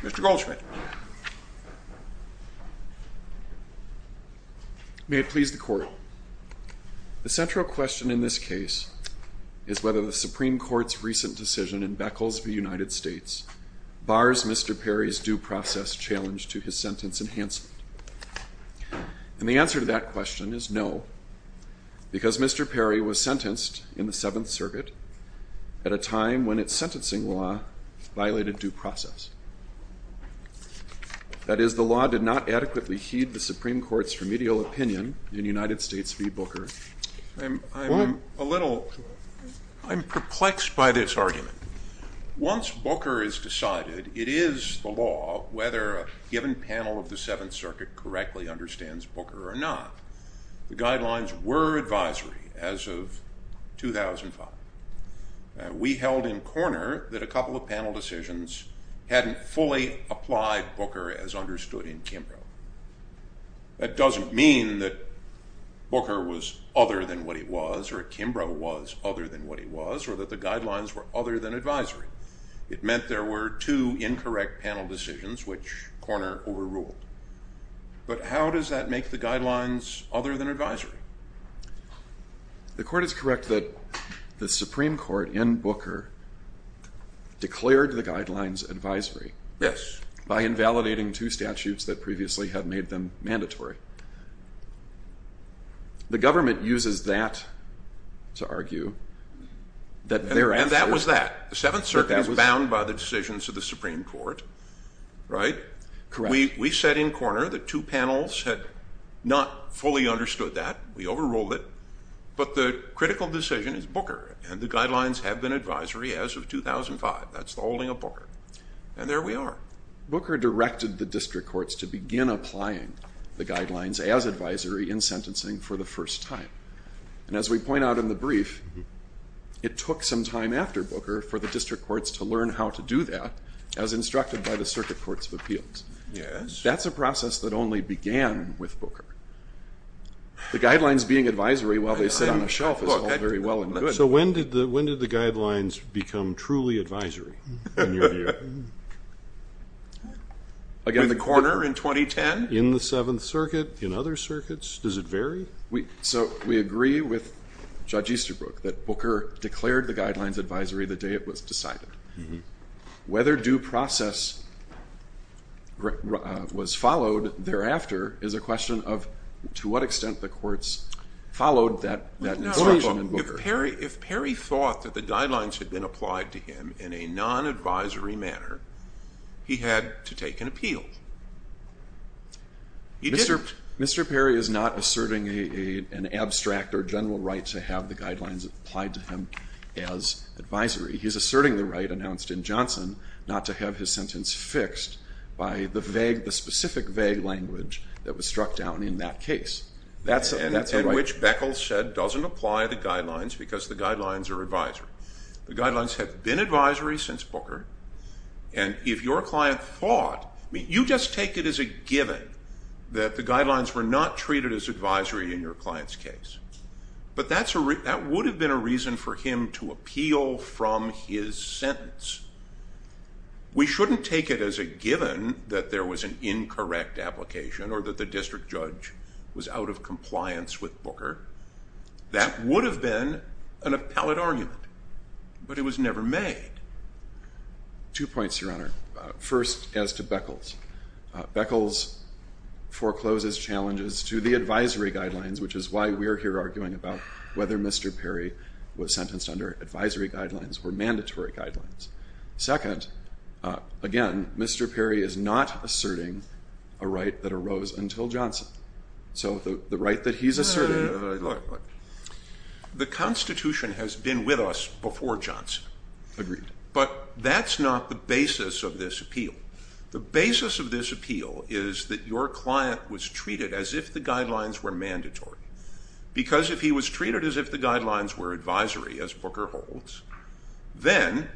Mr. Goldschmidt. May it please the court. The central question in this case is whether the Supreme Court's recent decision in Beckles v. United States bars Mr. Perry's due process challenge to his sentence enhancement. And the answer to that question is no, because Mr. Perry was sentenced in the Seventh Circuit's due process. That is, the law did not adequately heed the Supreme Court's remedial opinion in United States v. Booker. I'm a little, I'm perplexed by this argument. Once Booker is decided, it is the law whether a given panel of the Seventh Circuit correctly understands Booker or not. The guidelines were advisory as of 2005. We held in corner that a couple of panel decisions hadn't fully applied Booker as understood in Kimbrough. That doesn't mean that Booker was other than what he was or Kimbrough was other than what he was or that the guidelines were other than advisory. It meant there were two incorrect panel decisions which corner overruled. But how does that make the guidelines other than advisory? The court is correct that the Supreme Court in the guidelines advisory. Yes. By invalidating two statutes that previously had made them mandatory. The government uses that to argue that there... And that was that. The Seventh Circuit was bound by the decisions of the Supreme Court, right? Correct. We set in corner that two panels had not fully understood that. We overruled it. But the critical decision is Booker and the Board. And there we are. Booker directed the district courts to begin applying the guidelines as advisory in sentencing for the first time. And as we point out in the brief, it took some time after Booker for the district courts to learn how to do that as instructed by the Circuit Courts of Appeals. Yes. That's a process that only began with Booker. The guidelines being advisory while they sit on a shelf is all very well and good. So when did the when did the guidelines become truly advisory? Again, the corner in 2010? In the Seventh Circuit, in other circuits? Does it vary? So we agree with Judge Easterbrook that Booker declared the guidelines advisory the day it was decided. Whether due process was followed thereafter is a question of to what extent the courts followed that If Perry thought that the guidelines had been applied to him in a non-advisory manner, he had to take an appeal. He didn't. Mr. Perry is not asserting an abstract or general right to have the guidelines applied to him as advisory. He's asserting the right announced in Johnson not to have his sentence fixed by the vague, the specific vague language that was struck down in that case. That's apply the guidelines because the guidelines are advisory. The guidelines have been advisory since Booker and if your client thought, I mean you just take it as a given that the guidelines were not treated as advisory in your client's case. But that would have been a reason for him to appeal from his sentence. We shouldn't take it as a given that there was an incorrect application or that the district judge was out of compliance with Booker. That would have been an appellate argument, but it was never made. Two points, Your Honor. First as to Beckles. Beckles forecloses challenges to the advisory guidelines, which is why we're here arguing about whether Mr. Perry was sentenced under advisory guidelines or mandatory guidelines. Second, again, Mr. Perry is not opposed until Johnson. So the right that he's asserted. The Constitution has been with us before Johnson. Agreed. But that's not the basis of this appeal. The basis of this appeal is that your client was treated as if the guidelines were mandatory. Because if he was treated as if the guidelines were advisory, as Booker holds, then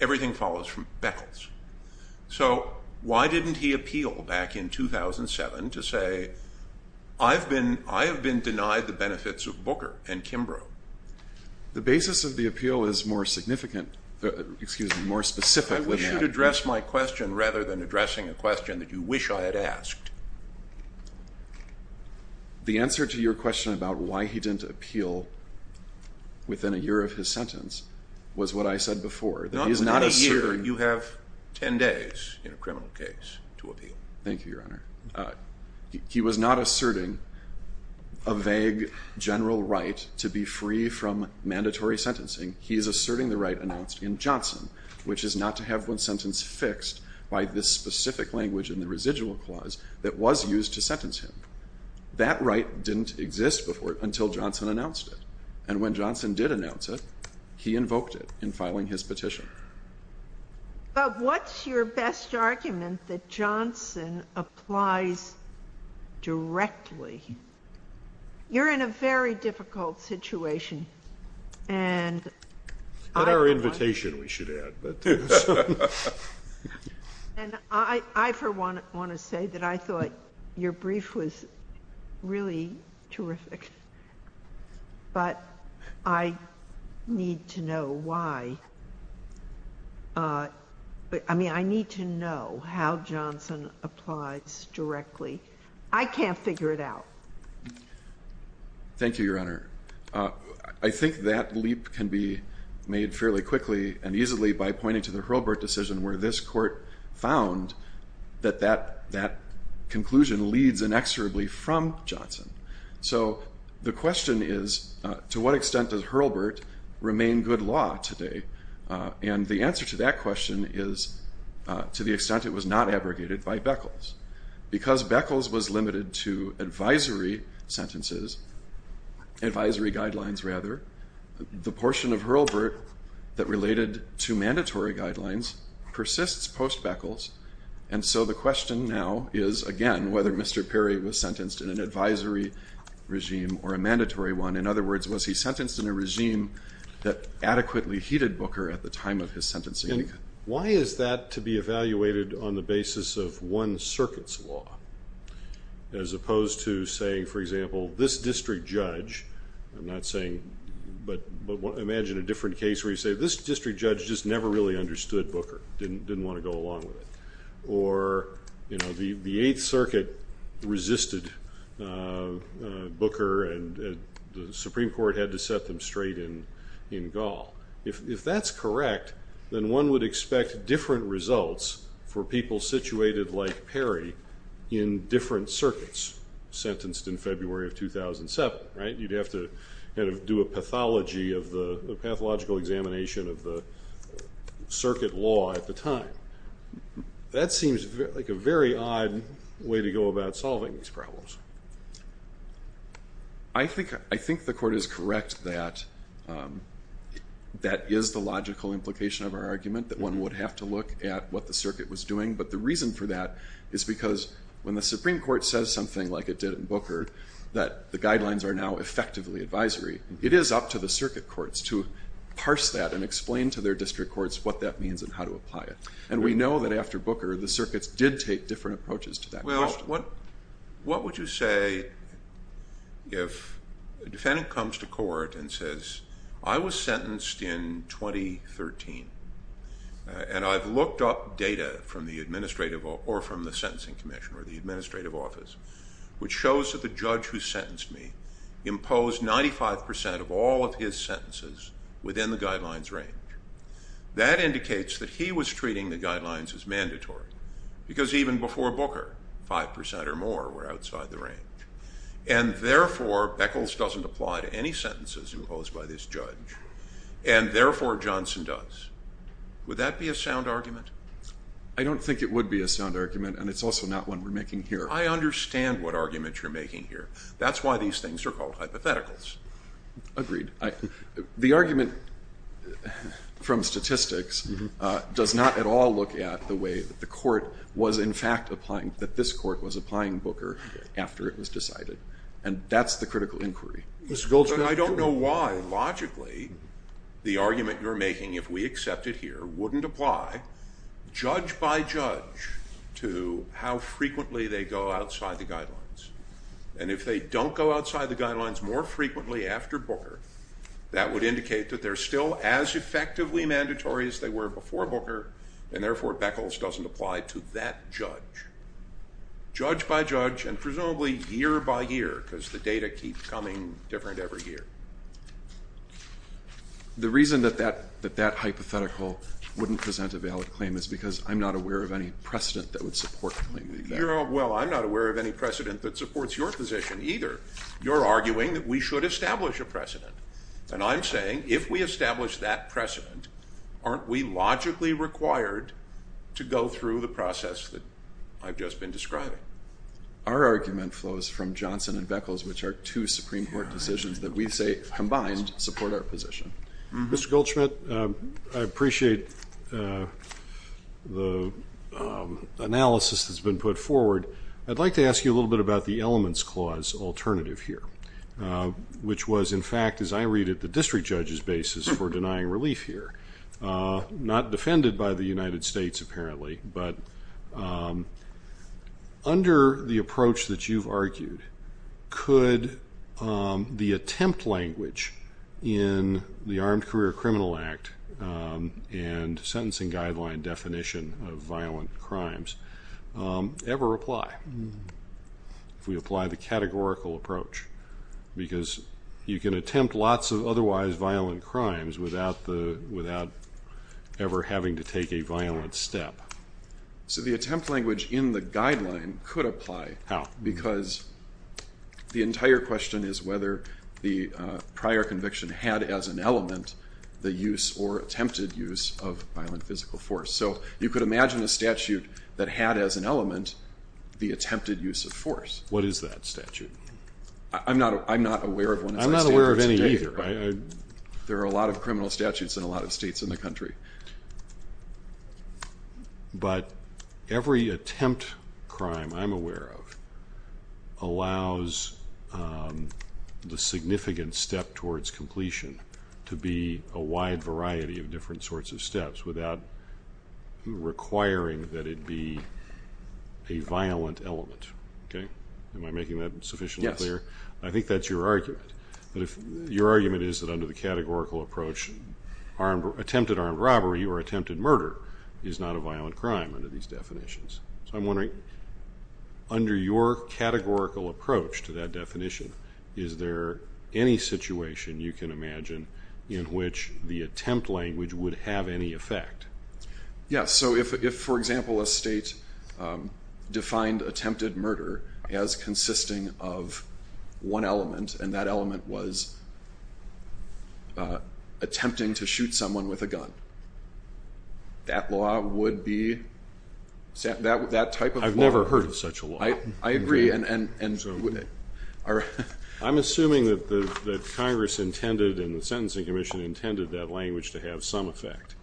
everything follows from Beckles. So why didn't he appeal back in 2007 to say, I've been denied the benefits of Booker and Kimbrough? The basis of the appeal is more significant, excuse me, more specific. I wish you'd address my question rather than addressing a question that you wish I had asked. The answer to your question about why he didn't appeal within a year of his sentence was what I said before. Not a year. You have ten days in a year. Thank you, Your Honor. He was not asserting a vague general right to be free from mandatory sentencing. He is asserting the right announced in Johnson, which is not to have one sentence fixed by this specific language in the residual clause that was used to sentence him. That right didn't exist before until Johnson announced it. And when Johnson did announce it, he invoked it in filing his You're in a very difficult situation. At our invitation, we should add, but I want to say that I thought your brief was really terrific, but I need to know why. I mean, I need to know how Johnson applies directly. I can't figure it out. Thank you, Your Honor. I think that leap can be made fairly quickly and easily by pointing to the Hurlburt decision where this court found that that conclusion leads inexorably from Johnson. So the question is, to what extent does Hurlburt remain good law today? And the answer to that question is, to the extent it was not abrogated by Beckles. Because Beckles was limited to advisory sentences, advisory guidelines, rather, the portion of Hurlburt that related to mandatory guidelines persists post-Beckles. And so the question now is, again, whether Mr. Perry was sentenced in an advisory regime or a mandatory one. In other words, was he sentenced in a regime that adequately heated Booker at the time of his sentencing? And why is that to be evaluated on the basis of one circuit's law, as opposed to saying, for example, this district judge, I'm not saying, but imagine a different case where you say, this district judge just never really understood Booker, didn't want to go along with it. Or, you know, the Eighth Circuit resisted Booker, and the Supreme Court had to set them straight in Gaul. If that's correct, then one would expect different results for people situated like Perry in different circuits, sentenced in February of 2007, right? You'd have to kind of do a pathology of the pathological examination of the circuit law at the time. That seems like a very odd way to go about solving these problems. I think the Court is correct that that is the logical implication of our argument, that one would have to look at what the circuit was doing. But the reason for that is because when the Supreme Court says something like it did in Booker, that the guidelines are now effectively advisory, it is up to the circuit courts to parse that and explain to their district courts what that means and how to apply it. And we know that after Booker, the circuits did take different approaches to that question. What would you say if a defendant comes to court and says, I was sentenced in 2013, and I've looked up data from the Administrative, or from the Sentencing Commission, or the Administrative Office, which shows that the judge who sentenced me imposed 95% of all of his sentences within the guidelines range. That indicates that he was treating the guidelines as mandatory, because even before Booker, 5% or more were outside the range. And therefore, Beckles doesn't apply to any sentences imposed by this judge, and therefore Johnson does. Would that be a sound argument? I don't think it would be a sound argument, and it's also not one we're making here. I understand what argument you're making here. That's why these things are called hypotheticals. Agreed. The argument from statistics does not at all look at the way that the court was in fact applying, that this court was applying Booker after it was decided. And that's the critical inquiry. I don't know why, logically, the argument you're making, if we accept it here, wouldn't apply, judge by judge, to how frequently they go outside the guidelines. And if they don't go outside the guidelines more frequently after Booker, that would indicate that they're still as effectively mandatory as they were before Booker, and therefore Beckles doesn't apply to that judge. Judge by judge, and presumably year by year, because the data keep coming different every year. The reason that that hypothetical wouldn't present a valid claim is because I'm not aware of any precedent that would support claiming that. Well, I'm not aware of any precedent that supports your position either. You're arguing that we should establish a precedent. And I'm saying, if we establish that precedent, aren't we logically required to go through the process that I've just been describing? Our argument flows from Johnson and Beckles, which are two Supreme Court decisions that we say, combined, support our position. Mr. Goldschmidt, I appreciate the analysis that's been put forward. I'd like to ask you a little bit about the elements clause alternative here, which was, in fact, as I read it, the district judge's basis for denying relief here. Not defended by the United States, apparently, but under the approach that you've argued, could the attempt language in the Armed Career Criminal Act and sentencing guideline definition of violent crimes ever apply, if we apply the categorical approach? Because you can attempt lots of otherwise violent crimes without ever having to take a violent step. So the attempt language in the guideline could apply. How? Because the entire question is whether the prior conviction had as an element the use or attempted use of violent physical force. So you could imagine a statute that had as an element the attempted use of force. What is that statute? I'm not aware of one. I'm not aware of any either. There are a lot of criminal statutes in a lot of states in the country. But every attempt crime I'm aware of allows the significant step towards completion to be a wide variety of different sorts of steps without requiring that it be a violent element. Am I making that sufficiently clear? I think that's your argument. Your argument is that under the categorical approach, attempted armed robbery or attempted murder is not a violent crime under these definitions. So I'm wondering, under your categorical approach to that definition, is there any situation you can imagine in which the attempt language would have any effect? Yes. So if, for example, a state defined attempted murder as consisting of one element and that element was attempting to shoot someone with a gun, that law would be that type of law. I've never heard of such a law. I agree. I'm assuming that Congress intended and the Sentencing Commission intended that language to have some effect.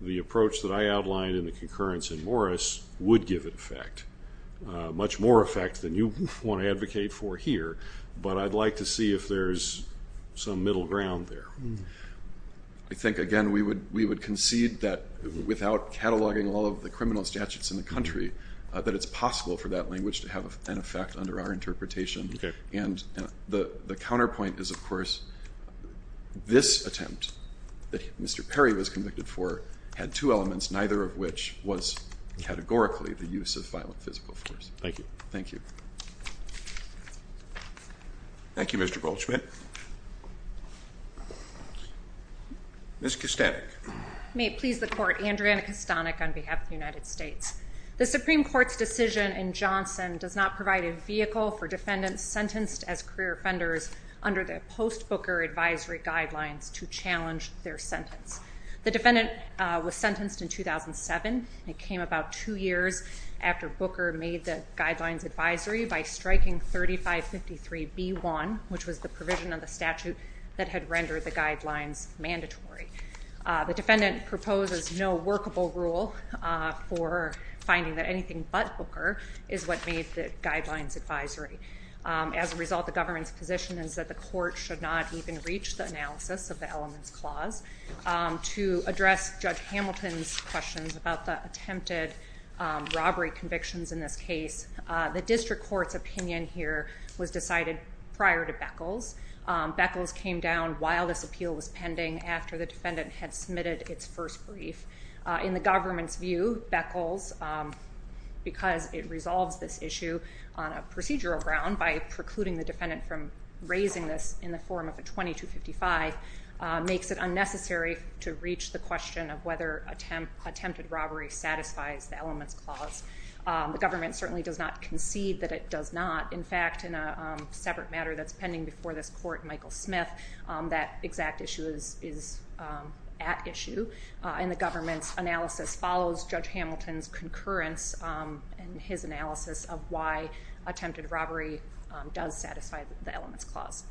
The approach that I outlined in the concurrence in Morris would give it effect, much more effect than you want to advocate for here. But I'd like to see if there's some middle ground there. I think, again, we would concede that without cataloging all of the criminal statutes in the country, that it's possible for that language to have an effect under our interpretation. Okay. And the counterpoint is, of course, this attempt that Mr. Perry was convicted for had two elements, neither of which was categorically the use of violent physical force. Thank you. Thank you. Thank you, Mr. Goldschmidt. Ms. Kastanek. May it please the Court, Andrea Kastanek on behalf of the United States. The Supreme Court's decision in Johnson does not provide a vehicle for defendants sentenced as career offenders under the post-Booker advisory guidelines to challenge their sentence. The defendant was sentenced in 2007. It came about two years after Booker made the guidelines advisory by striking 3553B1, which was the provision of the statute that had rendered the guidelines mandatory. The defendant proposes no workable rule for finding that anything but Booker is what made the guidelines advisory. As a result, the government's position is that the Court should not even reach the analysis of the elements clause. To address Judge Hamilton's questions about the attempted robbery convictions in this case, the district court's opinion here was decided prior to Beckles. Beckles came down while this appeal was pending after the defendant had submitted its first brief. In the government's view, Beckles, because it resolves this issue on a procedural ground by precluding the defendant from raising this in the form of a 2255, makes it unnecessary to reach the question of whether attempted robbery satisfies the elements clause. The government certainly does not concede that it does not. In fact, in a separate matter that's pending before this Court, Michael Smith, that exact issue is at issue. And the government's analysis follows Judge Hamilton's concurrence and his analysis of why attempted robbery does satisfy the elements clause.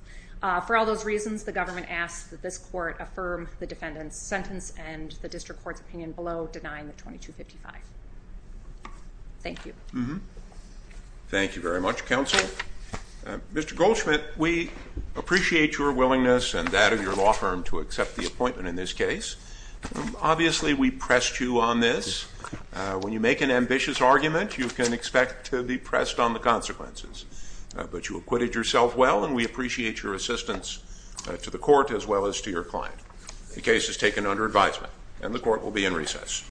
For all those reasons, the government asks that this Court affirm the defendant's sentence and the district court's opinion below denying the 2255. Thank you. Thank you very much, Counsel. Mr. Goldschmidt, we appreciate your willingness and that of your law firm to accept the appointment in this case. Obviously, we pressed you on this. When you make an ambitious argument, you can expect to be pressed on the consequences. But you acquitted yourself well, and we appreciate your assistance to the Court as well as to your client. The case is taken under advisement, and the Court will be in recess.